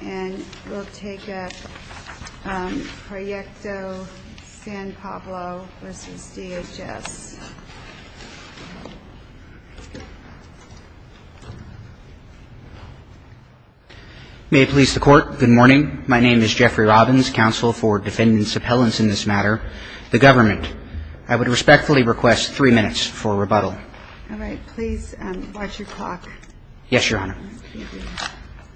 May it please the court, good morning. My name is Jeffrey Robbins, counsel for defendants appellants in this matter, the government. I would respectfully request three minutes for rebuttal.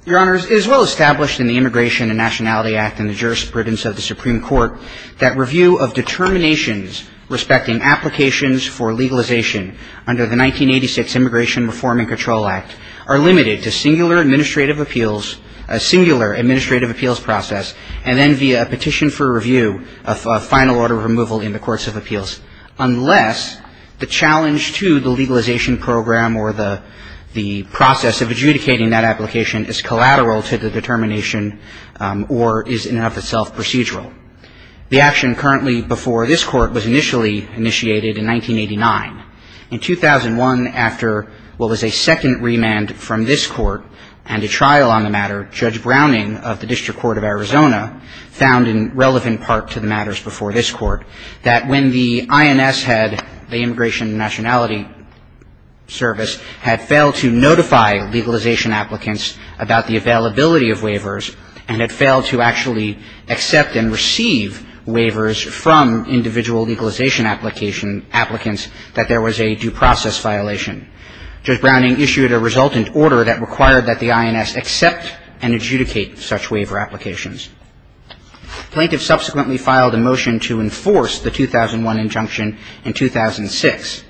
Your Honor, it is well established in the Immigration and Nationality Act and the jurisprudence of the Supreme Court that review of determinations respecting applications for legalization under the 1986 Immigration Reform and Control Act are limited to singular administrative appeals process and then via a petition for review of final order of removal in the courts of the United States. The action currently before this Court was initially initiated in 1989. In 2001, after what was a second remand from this Court and a trial on the matter, Judge Browning of the District Court of Arizona found in relevant part to the matters before this Court that when the INS had the Immigration and Nationality Act in effect, that the INS service had failed to notify legalization applicants about the availability of waivers and had failed to actually accept and receive waivers from individual legalization applicants that there was a due process violation. Judge Browning issued a resultant order that required that the INS accept and adjudicate such waiver applications. Plaintiffs subsequently filed a motion to enforce the 2001 injunction in 2006.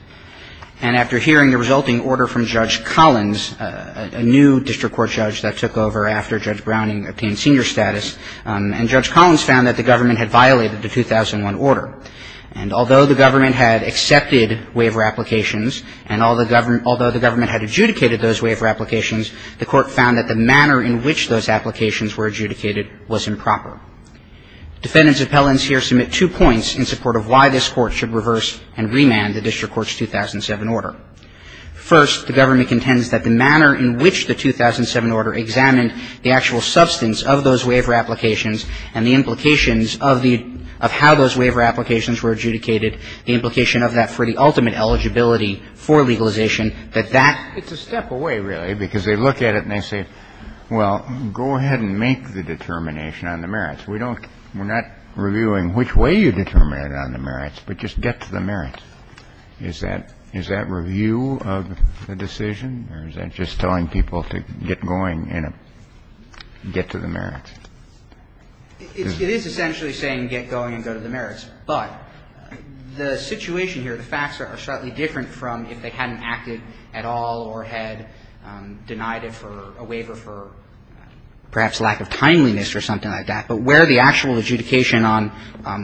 And after hearing the resulting order from Judge Collins, a new District Court judge that took over after Judge Browning obtained senior status, and Judge Collins found that the government had violated the 2001 order. And although the government had accepted waiver applications and although the government had adjudicated those waiver applications, the Court found that the manner in which those applications were adjudicated was improper. Defendants' appellants here submit two points in support of why this Court should reverse and remand the District Court's 2007 order. First, the government contends that the manner in which the 2007 order examined the actual substance of those waiver applications and the implications of the – of how those waiver applications were adjudicated, the implication of that for the ultimate eligibility for legalization, that that – It's a step away, really, because they look at it and they say, well, go ahead and make the determination on the merits. We don't – we're not reviewing which way you determine it on the merits, but just get to the merits. Is that – is that review of the decision or is that just telling people to get going and get to the merits? It is essentially saying get going and go to the merits. But the situation here, the facts are slightly different from if they hadn't acted at all or had denied it for a waiver for perhaps lack of timeliness or something like that. But where the actual adjudication on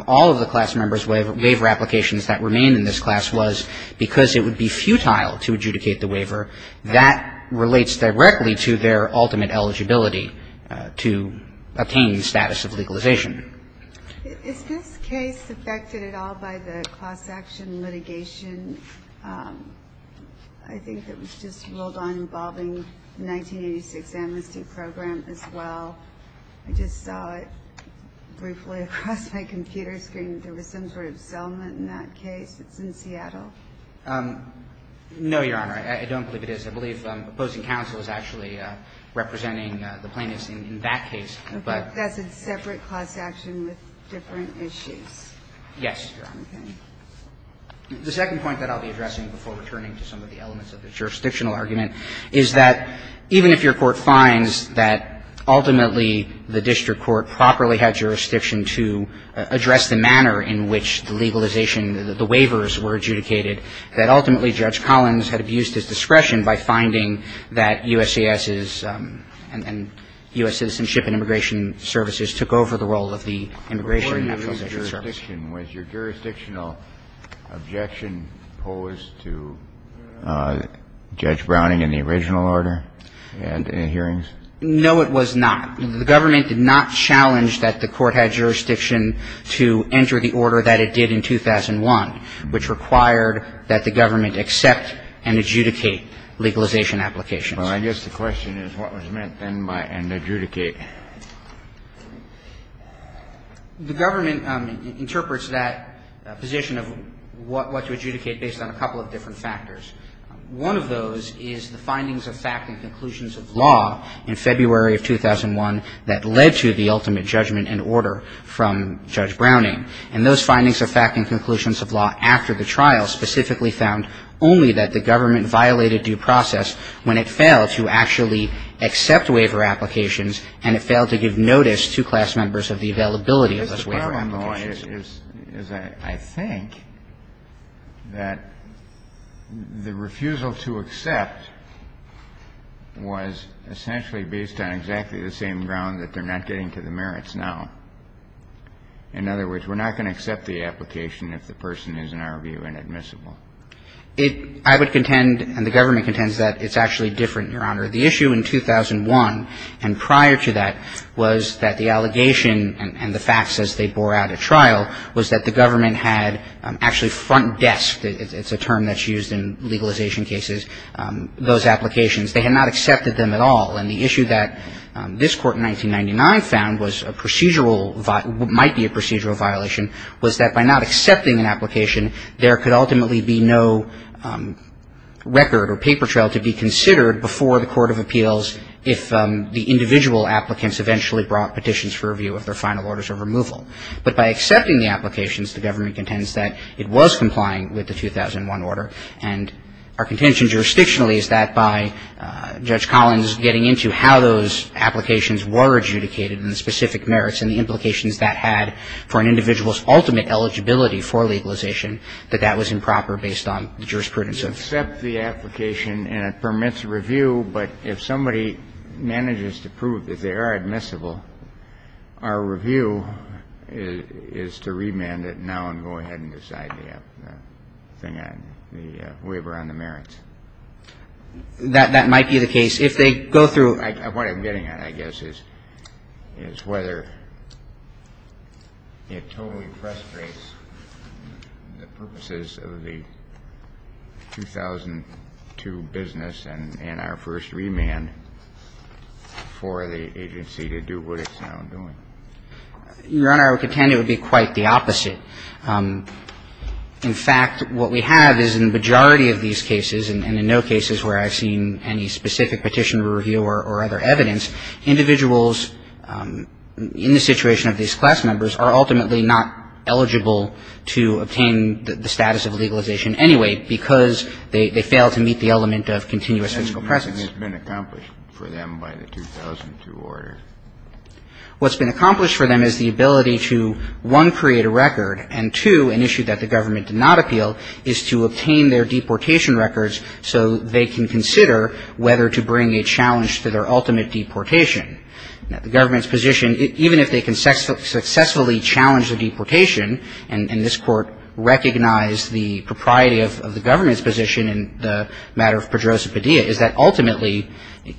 all of the class members' waiver applications that remained in this class was because it would be futile to adjudicate the waiver, that relates directly to their ultimate eligibility to obtain the status of legalization. Is this case affected at all by the cross-action litigation? I think that was just ruled on involving the 1986 amnesty program as well. I just saw it briefly across my computer screen. There was some sort of settlement in that case. It's in Seattle. No, Your Honor. I don't believe it is. I believe opposing counsel is actually representing the plaintiffs in that case, but – But that's a separate class action with different issues. Yes, Your Honor. Okay. Justice Kagan, I'm going to ask you a question about the jurisdictional I'm going to ask you a question about the jurisdictional argument. The jurisdictional argument is that even if your court finds that ultimately the district court properly had jurisdiction to address the manner in which the legalization – the waivers were adjudicated, that ultimately Judge Collins had abused his discretion by finding that USCIS is – and U.S. Citizenship and Immigration Services took over the role of the Immigration and Naturalization Service. Was your jurisdictional objection posed to Judge Browning in the original order and in the hearings? No, it was not. The government did not challenge that the court had jurisdiction to enter the order that it did in 2001, which required that the government accept and adjudicate legalization applications. Well, I guess the question is what was meant then by and adjudicate. The government interprets that position of what to adjudicate based on a couple of different factors. One of those is the findings of fact and conclusions of law in February of 2001 that led to the ultimate judgment and order from Judge Browning. And those findings of fact and conclusions of law after the trial specifically found only that the government violated due process when it failed to actually accept waiver applications and it failed to give notice to class members of the availability of those waiver applications. I guess the problem, though, is I think that the refusal to accept was essentially based on exactly the same ground that they're not getting to the merits now. In other words, I would contend, and the government contends, that it's actually different, Your Honor. The issue in 2001 and prior to that was that the allegation and the facts as they bore out at trial was that the government had actually front desked, it's a term that's used in legalization cases, those applications. They had not accepted them at all. And the issue that this Court in 1999 found was a procedural, might be a procedural violation, was that by not accepting an application, there could ultimately be no record or paper trail to be considered before the Court of Appeals if the individual applicants eventually brought petitions for review of their final orders of removal. But by accepting the applications, the government contends that it was complying with the 2001 order. And our contention jurisdictionally is that by Judge Collins getting into how those applications were adjudicated and the specific merits and the implications that had for an individual's ultimate eligibility for legalization, that that was improper based on the jurisprudence of the court. You accept the application and it permits review, but if somebody manages to prove that they are admissible, our review is to remand it now and go ahead and decide the thing on the waiver on the merits. That might be the case. If they go through What I'm getting at, I guess, is whether it totally frustrates the purposes of the 2002 business and our first remand for the agency to do what it's now doing. Your Honor, I would contend it would be quite the opposite. In fact, what we have is in the majority of these cases, and in no cases where I've seen any specific petition review or other evidence, individuals in the situation of these class members are ultimately not eligible to obtain the status of legalization anyway, because they fail to meet the element of continuous physical presence. Kennedy, what has been accomplished for them by the 2002 order? What's been accomplished for them is the ability to, one, create a record, and, two, an issue that the government did not appeal, is to obtain their deportation records so they can consider whether to bring a challenge to their ultimate deportation. Now, the government's position, even if they can successfully challenge the deportation, and this Court recognized the propriety of the government's position in the matter of Pedroza-Padilla, is that ultimately,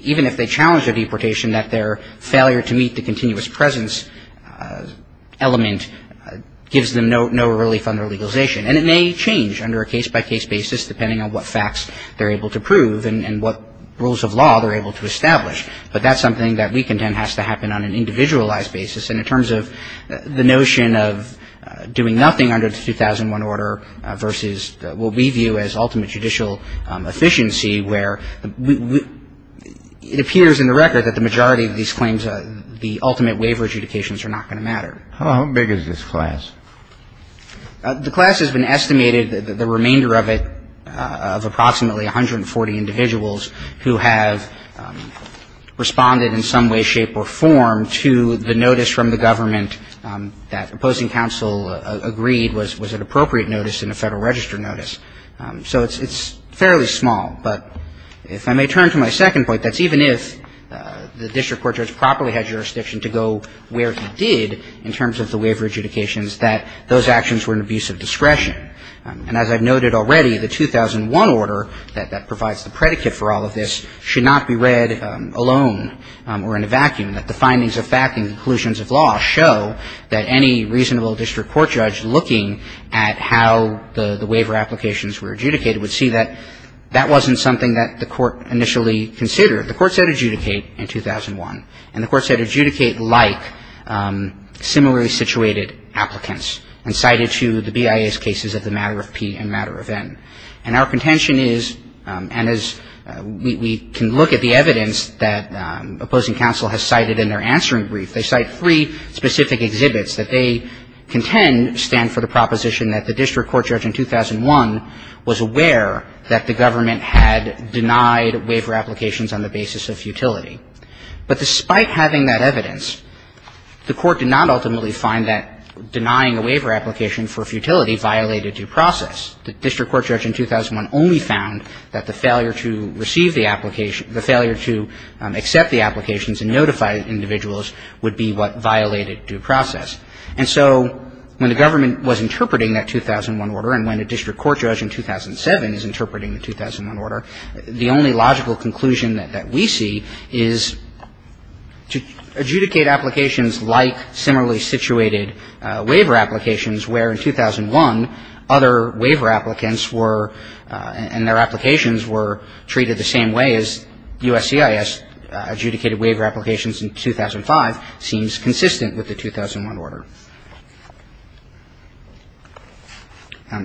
even if they challenge their deportation, that their failure to meet the continuous presence element gives them no relief on what facts they're able to prove and what rules of law they're able to establish. But that's something that we contend has to happen on an individualized basis. And in terms of the notion of doing nothing under the 2001 order versus what we view as ultimate judicial efficiency, where it appears in the record that the majority of these claims, the ultimate waiver adjudications are not going to matter. How big is this class? The class has been estimated, the remainder of it, of approximately 140 individuals who have responded in some way, shape, or form to the notice from the government that opposing counsel agreed was an appropriate notice in a Federal Register notice. So it's fairly small. But if I may turn to my second point, that's even if the district court judge properly had jurisdiction to go where he did in terms of the waiver adjudications, that those actions were an abuse of discretion. And as I've noted already, the 2001 order that provides the predicate for all of this should not be read alone or in a vacuum, that the findings of fact and conclusions of law show that any reasonable district court judge looking at how the waiver applications were adjudicated would see that that wasn't something that the court initially considered. The court said adjudicate in 2001. And the court said adjudicate like similarly situated applicants and cited to the BIA's cases of the matter of P and matter of N. And our contention is, and as we can look at the evidence that opposing counsel has cited in their answering brief, they cite three specific exhibits that they contend stand for the proposition that the district court judge in 2001 was aware that the government had denied waiver applications on the basis of futility. But despite having that evidence, the court did not ultimately find that denying a waiver application for futility violated due process. The district court judge in 2001 only found that the failure to receive the application the failure to accept the applications and notify individuals would be what violated due process. And so when the government was interpreting that 2001 order and when a district court judge in 2007 is interpreting the 2001 order, the only logical conclusion that we see is to adjudicate applications like similarly situated waiver applications where in 2001 other waiver applicants were and their applications were treated the same way as USCIS adjudicated waiver applications in 2005 seems consistent with the 2001 order.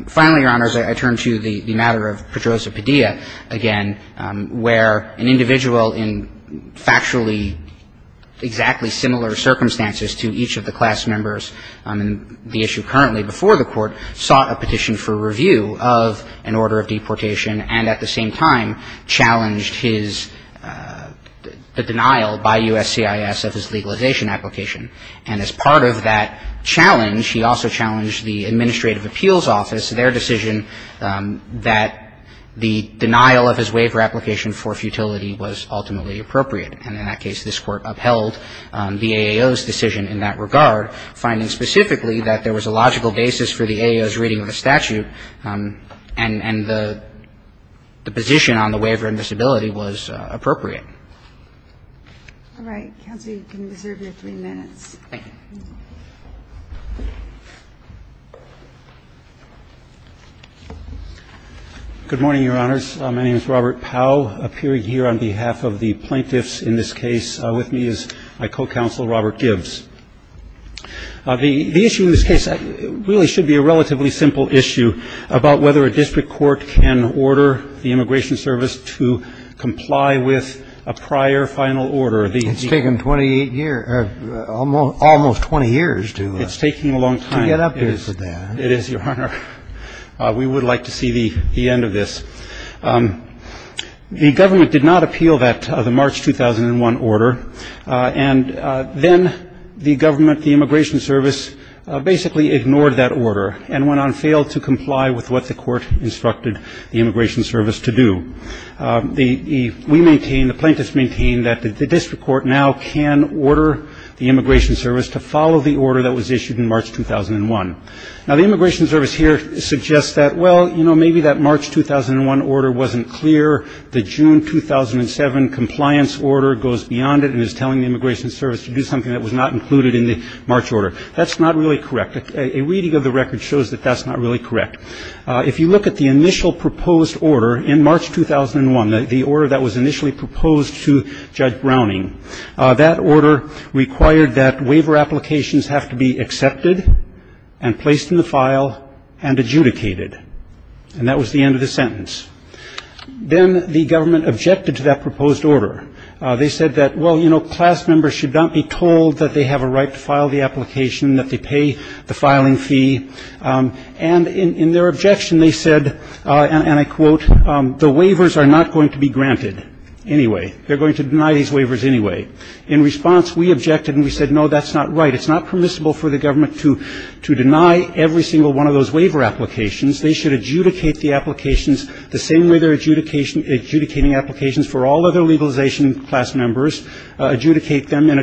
Finally, Your Honors, I turn to the matter of Pedrosa-Padilla again where an individual in factually exactly similar circumstances to each of the class members on the issue currently before the court sought a petition for review of an order of deportation and at the same time challenged his the denial by USCIS of his legalization application. And as part of that challenge, he also challenged the Administrative Appeals Office, their decision that the denial of his waiver application for futility was ultimately appropriate. And in that case, this Court upheld the AAO's decision in that regard, finding specifically that there was a logical basis for the AAO's reading of the statute and the position on the waiver and disability was appropriate. All right. Counsel, you can reserve your three minutes. Thank you. Good morning, Your Honors. My name is Robert Powell. Appearing here on behalf of the plaintiffs in this case with me is my co-counsel, Robert Gibbs. The issue in this case really should be a relatively simple issue about whether a district court can order the Immigration Service to comply with a prior final order. It's taken 28 years or almost 20 years to get up to that. It's taking a long time. It is, Your Honor. We would like to see the end of this. The government did not appeal that, the March 2001 order. And then the government, the Immigration Service, basically ignored that order and went on to fail to comply with what the Court instructed the Immigration Service to do. We maintain, the plaintiffs maintain, that the district court now can order the Immigration Service to follow the order that was issued in March 2001. Now, the Immigration Service here suggests that, well, you know, maybe that March 2001 order wasn't clear. The June 2007 compliance order goes beyond it and is telling the Immigration Service to do something that was not included in the March order. That's not really correct. A reading of the record shows that that's not really correct. If you look at the initial proposed order in March 2001, the order that was initially proposed to Judge Browning, that order required that waiver applications have to be accepted and placed in the file and adjudicated. And that was the end of the sentence. Then the government objected to that proposed order. They said that, well, you know, class members should not be told that they have a right to file the application, that they pay the filing fee. And in their objection, they said, and I quote, the waivers are not going to be granted anyway. They're going to deny these waivers anyway. In response, we objected and we said, no, that's not right. It's not permissible for the government to deny every single one of those waiver applications. They should adjudicate the applications the same way they're adjudicating applications for all other legalization class members, adjudicate them in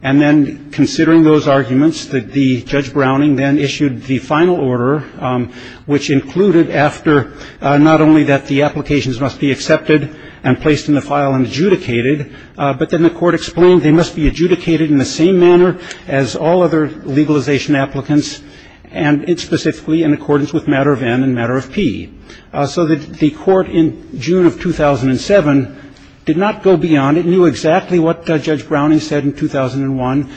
And then considering those arguments, the Judge Browning then issued the final order, which included after not only that the applications must be accepted and placed in the file and adjudicated, but then the court explained they must be adjudicated in the same manner as all other legalization applicants, and it's specifically in accordance with matter of N and matter of P. So the court in June of 2007 did not go beyond. It knew exactly what Judge Browning said in 2001,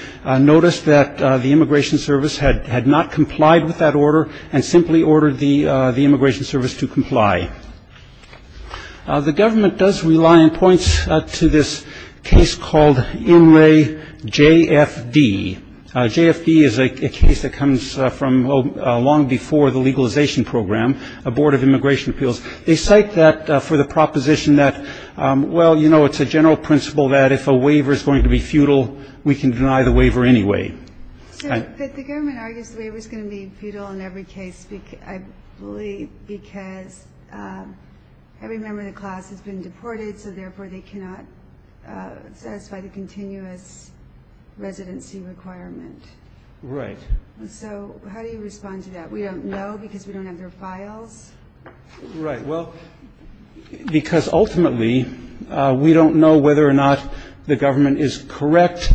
noticed that the Immigration Service had not complied with that order and simply ordered the Immigration Service to comply. The government does rely on points to this case called Inlay JFD. JFD is a case that comes from long before the legalization program, a Board of Immigration Appeals. They cite that for the proposition that, well, you know, it's a general principle that if a waiver is going to be futile, we can deny the waiver anyway. So the government argues the waiver is going to be futile in every case, I believe, because every member of the class has been deported, so therefore they cannot satisfy the continuous residency requirement. Right. So how do you respond to that? We don't know because we don't have their files? Right. Well, because ultimately we don't know whether or not the government is correct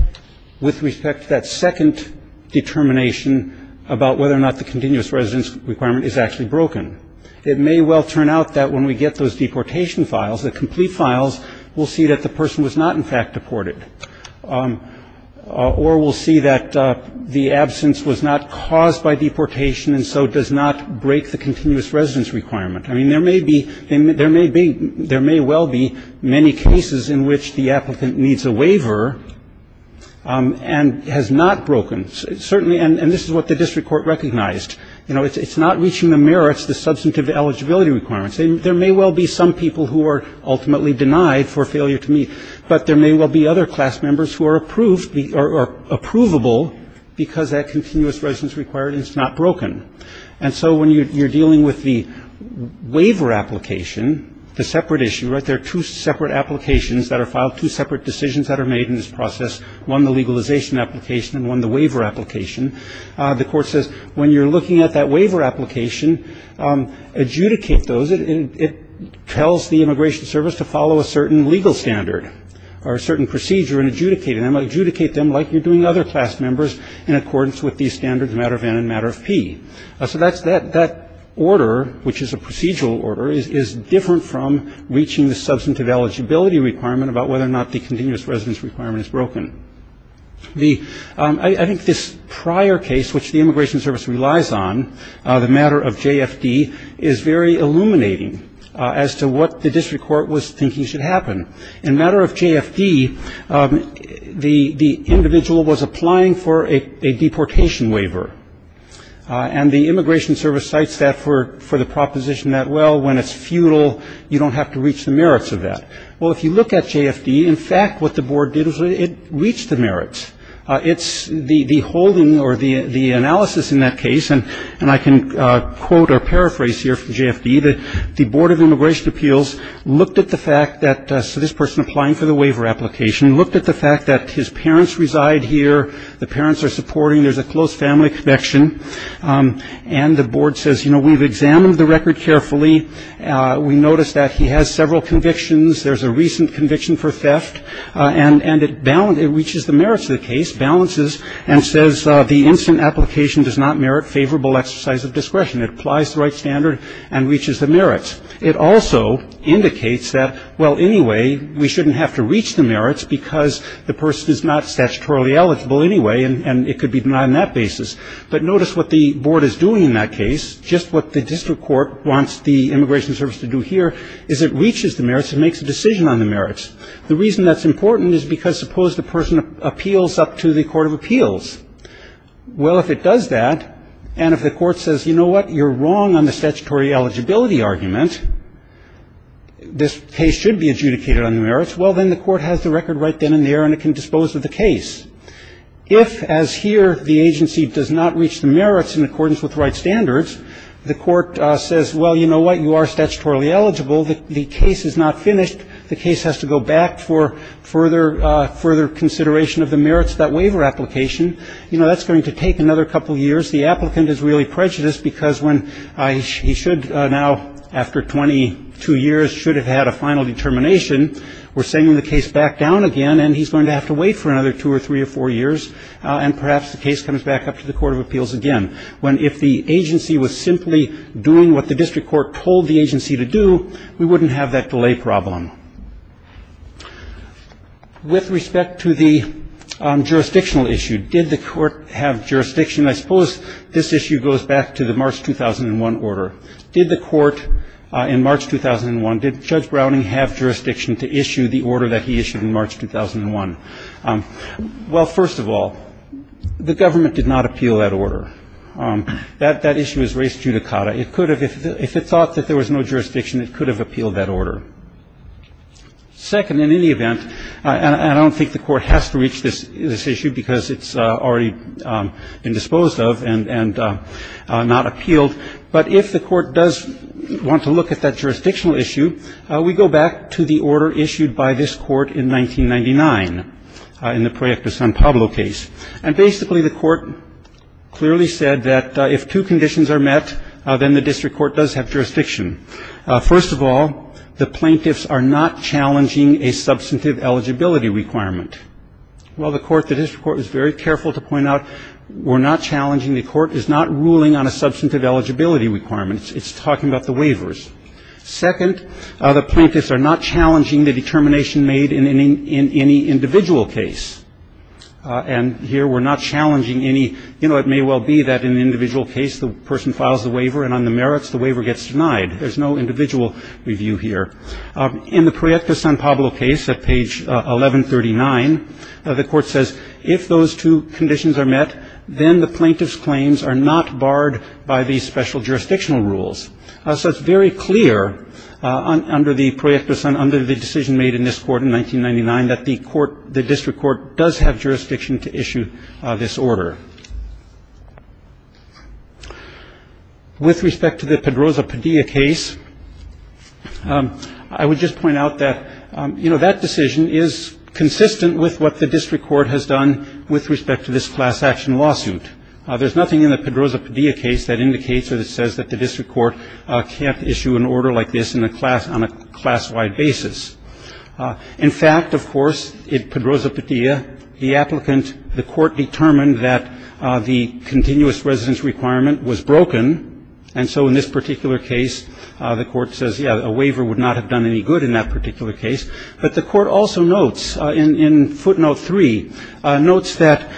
with respect to that second determination about whether or not the continuous residence requirement is actually broken. It may well turn out that when we get those deportation files, the complete files, we'll see that the person was not in fact deported or we'll see that the absence was not caused by deportation and so does not break the continuous residence requirement. I mean, there may well be many cases in which the applicant needs a waiver and has not broken. Certainly, and this is what the district court recognized, you know, it's not reaching the merits, the substantive eligibility requirements. There may well be some people who are ultimately denied for failure to meet, but there may well be other class members who are approved or approvable because that continuous residence requirement is not broken. And so when you're dealing with the waiver application, the separate issue, right, there are two separate applications that are filed, two separate decisions that are made in this process, one the legalization application and one the waiver application. The court says when you're looking at that waiver application, adjudicate those. It tells the immigration service to follow a certain legal standard or a certain procedure and adjudicate it. Adjudicate them like you're doing other class members in accordance with these standards, matter of N and matter of P. So that order, which is a procedural order, is different from reaching the substantive eligibility requirement about whether or not the continuous residence requirement is broken. I think this prior case, which the immigration service relies on, the matter of JFD, is very illuminating as to what the district court was thinking should happen. In matter of JFD, the individual was applying for a deportation waiver, and the immigration service cites that for the proposition that, well, when it's futile, you don't have to reach the merits of that. Well, if you look at JFD, in fact, what the board did was it reached the merits. It's the holding or the analysis in that case, and I can quote or paraphrase here from JFD, that the board of immigration appeals looked at the fact that this person applying for the waiver application, looked at the fact that his parents reside here, the parents are supporting, there's a close family connection, and the board says, you know, we've examined the record carefully. We noticed that he has several convictions. There's a recent conviction for theft, and it reaches the merits of the case, balances and says the instant application does not merit favorable exercise of discretion. It applies the right standard and reaches the merits. It also indicates that, well, anyway, we shouldn't have to reach the merits because the person is not statutorily eligible anyway, and it could be denied on that basis. But notice what the board is doing in that case. Just what the district court wants the immigration service to do here is it reaches the merits and makes a decision on the merits. The reason that's important is because suppose the person appeals up to the court of appeals. Well, if it does that, and if the court says, you know what? You're wrong on the statutory eligibility argument. This case should be adjudicated on the merits. Well, then the court has the record right then and there, and it can dispose of the case. If, as here, the agency does not reach the merits in accordance with the right standards, the court says, well, you know what? You are statutorily eligible. The case is not finished. The case has to go back for further consideration of the merits of that waiver application. You know, that's going to take another couple of years. The applicant is really prejudiced because when he should now, after 22 years, should have had a final determination. We're sending the case back down again, and he's going to have to wait for another two or three or four years, and perhaps the case comes back up to the court of appeals again. When if the agency was simply doing what the district court told the agency to do, we wouldn't have that delay problem. With respect to the jurisdictional issue, did the court have jurisdiction? I suppose this issue goes back to the March 2001 order. Did the court in March 2001, did Judge Browning have jurisdiction to issue the order that he issued in March 2001? Well, first of all, the government did not appeal that order. That issue is res judicata. It could have, if it thought that there was no jurisdiction, it could have appealed that order. Second, in any event, and I don't think the court has to reach this issue because it's already been disposed of and not appealed, but if the court does want to look at that jurisdictional issue, we go back to the order issued by this court in 1999, in the Proyecto San Pablo case. And basically the court clearly said that if two conditions are met, then the district court does have jurisdiction. First of all, the plaintiffs are not challenging a substantive eligibility requirement. Well, the court, the district court was very careful to point out we're not challenging, the court is not ruling on a substantive eligibility requirement. It's talking about the waivers. Second, the plaintiffs are not challenging the determination made in any individual case. And here we're not challenging any, you know, it may well be that in an individual case the person files the waiver and on the merits the waiver gets denied. There's no individual review here. In the Proyecto San Pablo case at page 1139, the court says if those two conditions are met, then the plaintiff's claims are not barred by the special jurisdictional rules. So it's very clear under the Proyecto San Pablo, under the decision made in this court in 1999, that the court, the district court does have jurisdiction to issue this order. With respect to the Pedroza-Padilla case, I would just point out that, you know, that decision is consistent with what the district court has done with respect to this class action lawsuit. There's nothing in the Pedroza-Padilla case that indicates or that says that the district court can't issue an order like this in a class, on a class-wide basis. In fact, of course, in Pedroza-Padilla, the applicant, the court determined that the continuous residence requirement was broken. And so in this particular case, the court says, yeah, a waiver would not have done any good in that particular case. But the court also notes in footnote three, notes that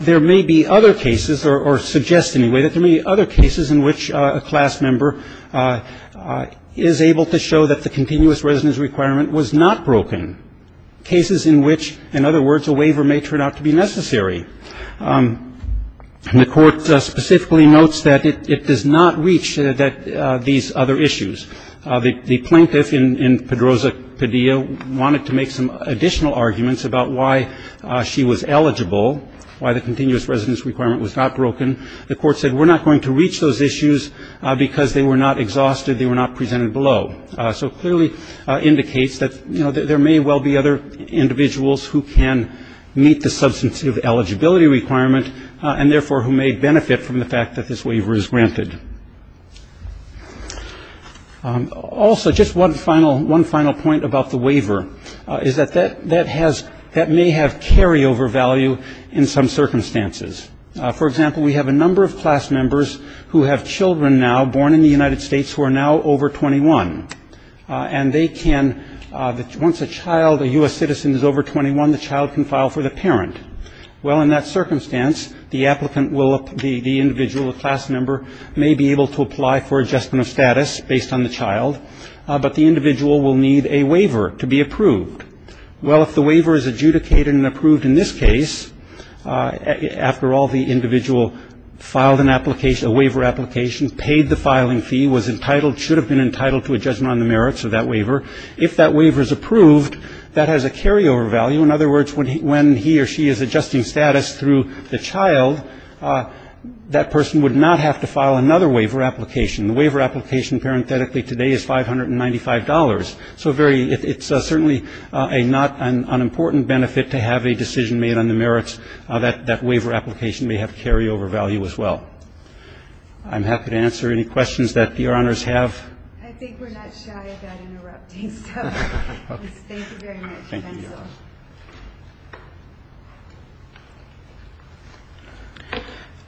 there may be other cases, or suggests anyway that there may be other cases in which a class member is able to show that the continuous residence requirement was not broken. Cases in which, in other words, a waiver may turn out to be necessary. And the court specifically notes that it does not reach these other issues. The plaintiff in Pedroza-Padilla wanted to make some additional arguments about why she was eligible, why the continuous residence requirement was not broken. The court said we're not going to reach those issues because they were not exhausted, they were not presented below. So clearly indicates that, you know, there may well be other individuals who can meet the substantive eligibility requirement, and therefore who may benefit from the fact that this waiver is granted. Also, just one final point about the waiver is that that may have carryover value in some circumstances. For example, we have a number of class members who have children now born in the United States who are now over 21. And they can, once a child, a U.S. citizen is over 21, the child can file for the parent. Well, in that circumstance, the applicant will, the individual, a class member, may be able to apply for adjustment of status based on the child, but the individual will need a waiver to be approved. Well, if the waiver is adjudicated and approved in this case, after all the individual filed a waiver application, paid the filing fee, was entitled, should have been entitled to a judgment on the merits of that waiver. If that waiver is approved, that has a carryover value. In other words, when he or she is adjusting status through the child, that person would not have to file another waiver application. The waiver application, parenthetically, today is $595. So very, it's certainly a not an unimportant benefit to have a decision made on the merits that that waiver application may have carryover value as well. I'm happy to answer any questions that Your Honors have. I think we're not shy about interrupting, so thank you very much. Thank you, Your Honors.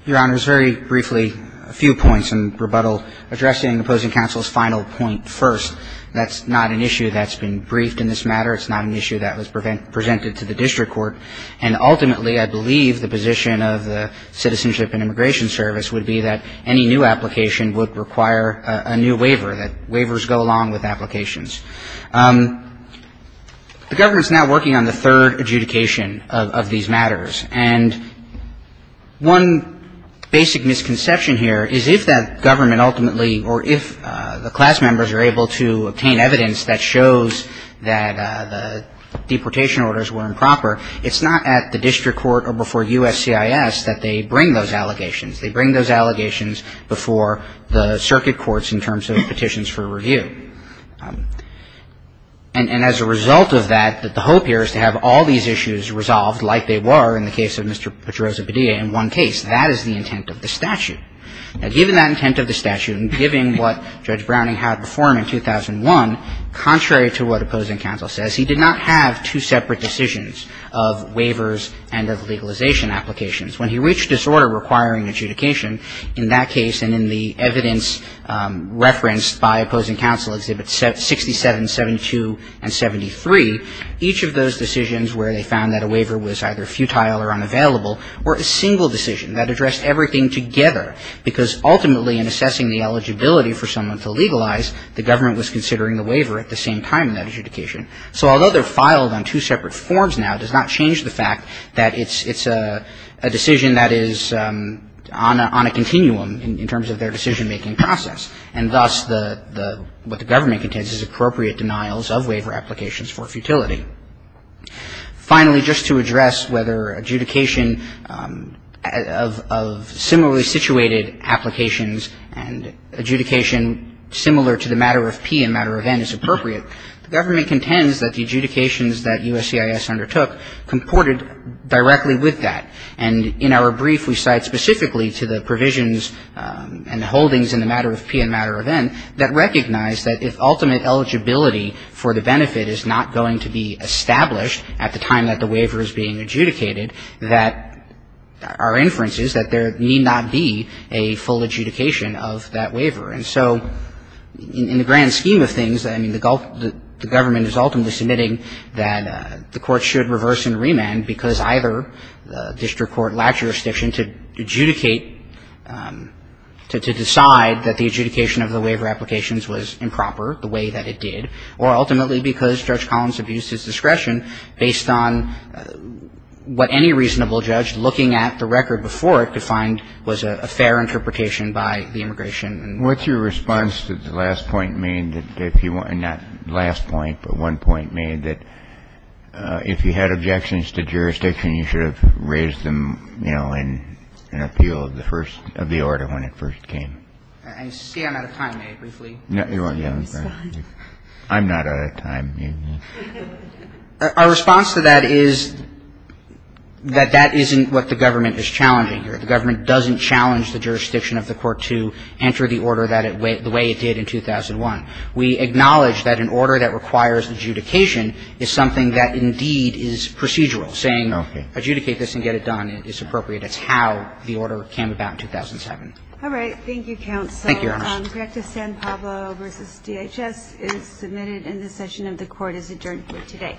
Your Honors, very briefly, a few points in rebuttal addressing opposing counsel's final point first. That's not an issue that's been briefed in this matter. It's not an issue that was presented to the district court. And ultimately, I believe the position of the Citizenship and Immigration Service would be that any new application would require a new waiver, that waivers go along with applications. The government's now working on the third adjudication of these matters. And one basic misconception here is if that government ultimately, or if the class members are able to obtain evidence that shows that the deportation orders were improper, it's not at the district court or before USCIS that they bring those allegations. They bring those allegations before the circuit courts in terms of petitions for review. And as a result of that, the hope here is to have all these issues resolved, like they were in the case of Mr. Pedroza-Padilla in one case. That is the intent of the statute. Now, given that intent of the statute and given what Judge Browning had before him in 2001, contrary to what opposing counsel says, he did not have two separate decisions of waivers and of legalization applications. When he reached disorder requiring adjudication in that case and in the evidence referenced by opposing counsel, Exhibits 67, 72, and 73, each of those decisions where they found that a waiver was either futile or unavailable were a single decision that addressed everything together, because ultimately in assessing the eligibility for someone to legalize, the government was considering the waiver at the same time in that adjudication. So although they're filed on two separate forms now, it does not change the fact that it's a decision that is on a continuum in terms of their decision-making process. And thus, what the government contends is appropriate denials of waiver applications for futility. Finally, just to address whether adjudication of similarly situated applications and adjudication similar to the matter of P and matter of N is appropriate, the government contends that the adjudications that USCIS undertook comported directly with that. And in our brief, we cite specifically to the provisions and the holdings in the matter of P and matter of N that recognize that if ultimate eligibility for the benefit is not going to be established at the time that the waiver is being adjudicated, that our inference is that there need not be a full adjudication of that waiver. And so in the grand scheme of things, I mean, the government is ultimately submitting that the court should reverse and remand because either the district court lacks jurisdiction to adjudicate, to decide that the adjudication of the waiver applications was improper the way that it did, or ultimately because Judge Collins abused his discretion based on what any reasonable judge looking at the record before it could find was a fair interpretation by the immigration. Kennedy. What's your response to the last point made that if you want to, not last point, but one point made that if you had objections to jurisdiction, you should have raised them, you know, in appeal of the first of the order when it first came? I see I'm out of time. May I briefly respond? I'm not out of time. Our response to that is that that isn't what the government is challenging here. The government doesn't challenge the jurisdiction of the court to enter the order that it – the way it did in 2001. We acknowledge that an order that requires adjudication is something that indeed is procedural, saying adjudicate this and get it done. It's appropriate. It's how the order came about in 2007. All right. Thank you, counsel. Thank you, Your Honor. The act of San Pablo v. DHS is submitted and this session of the court is adjourned here today.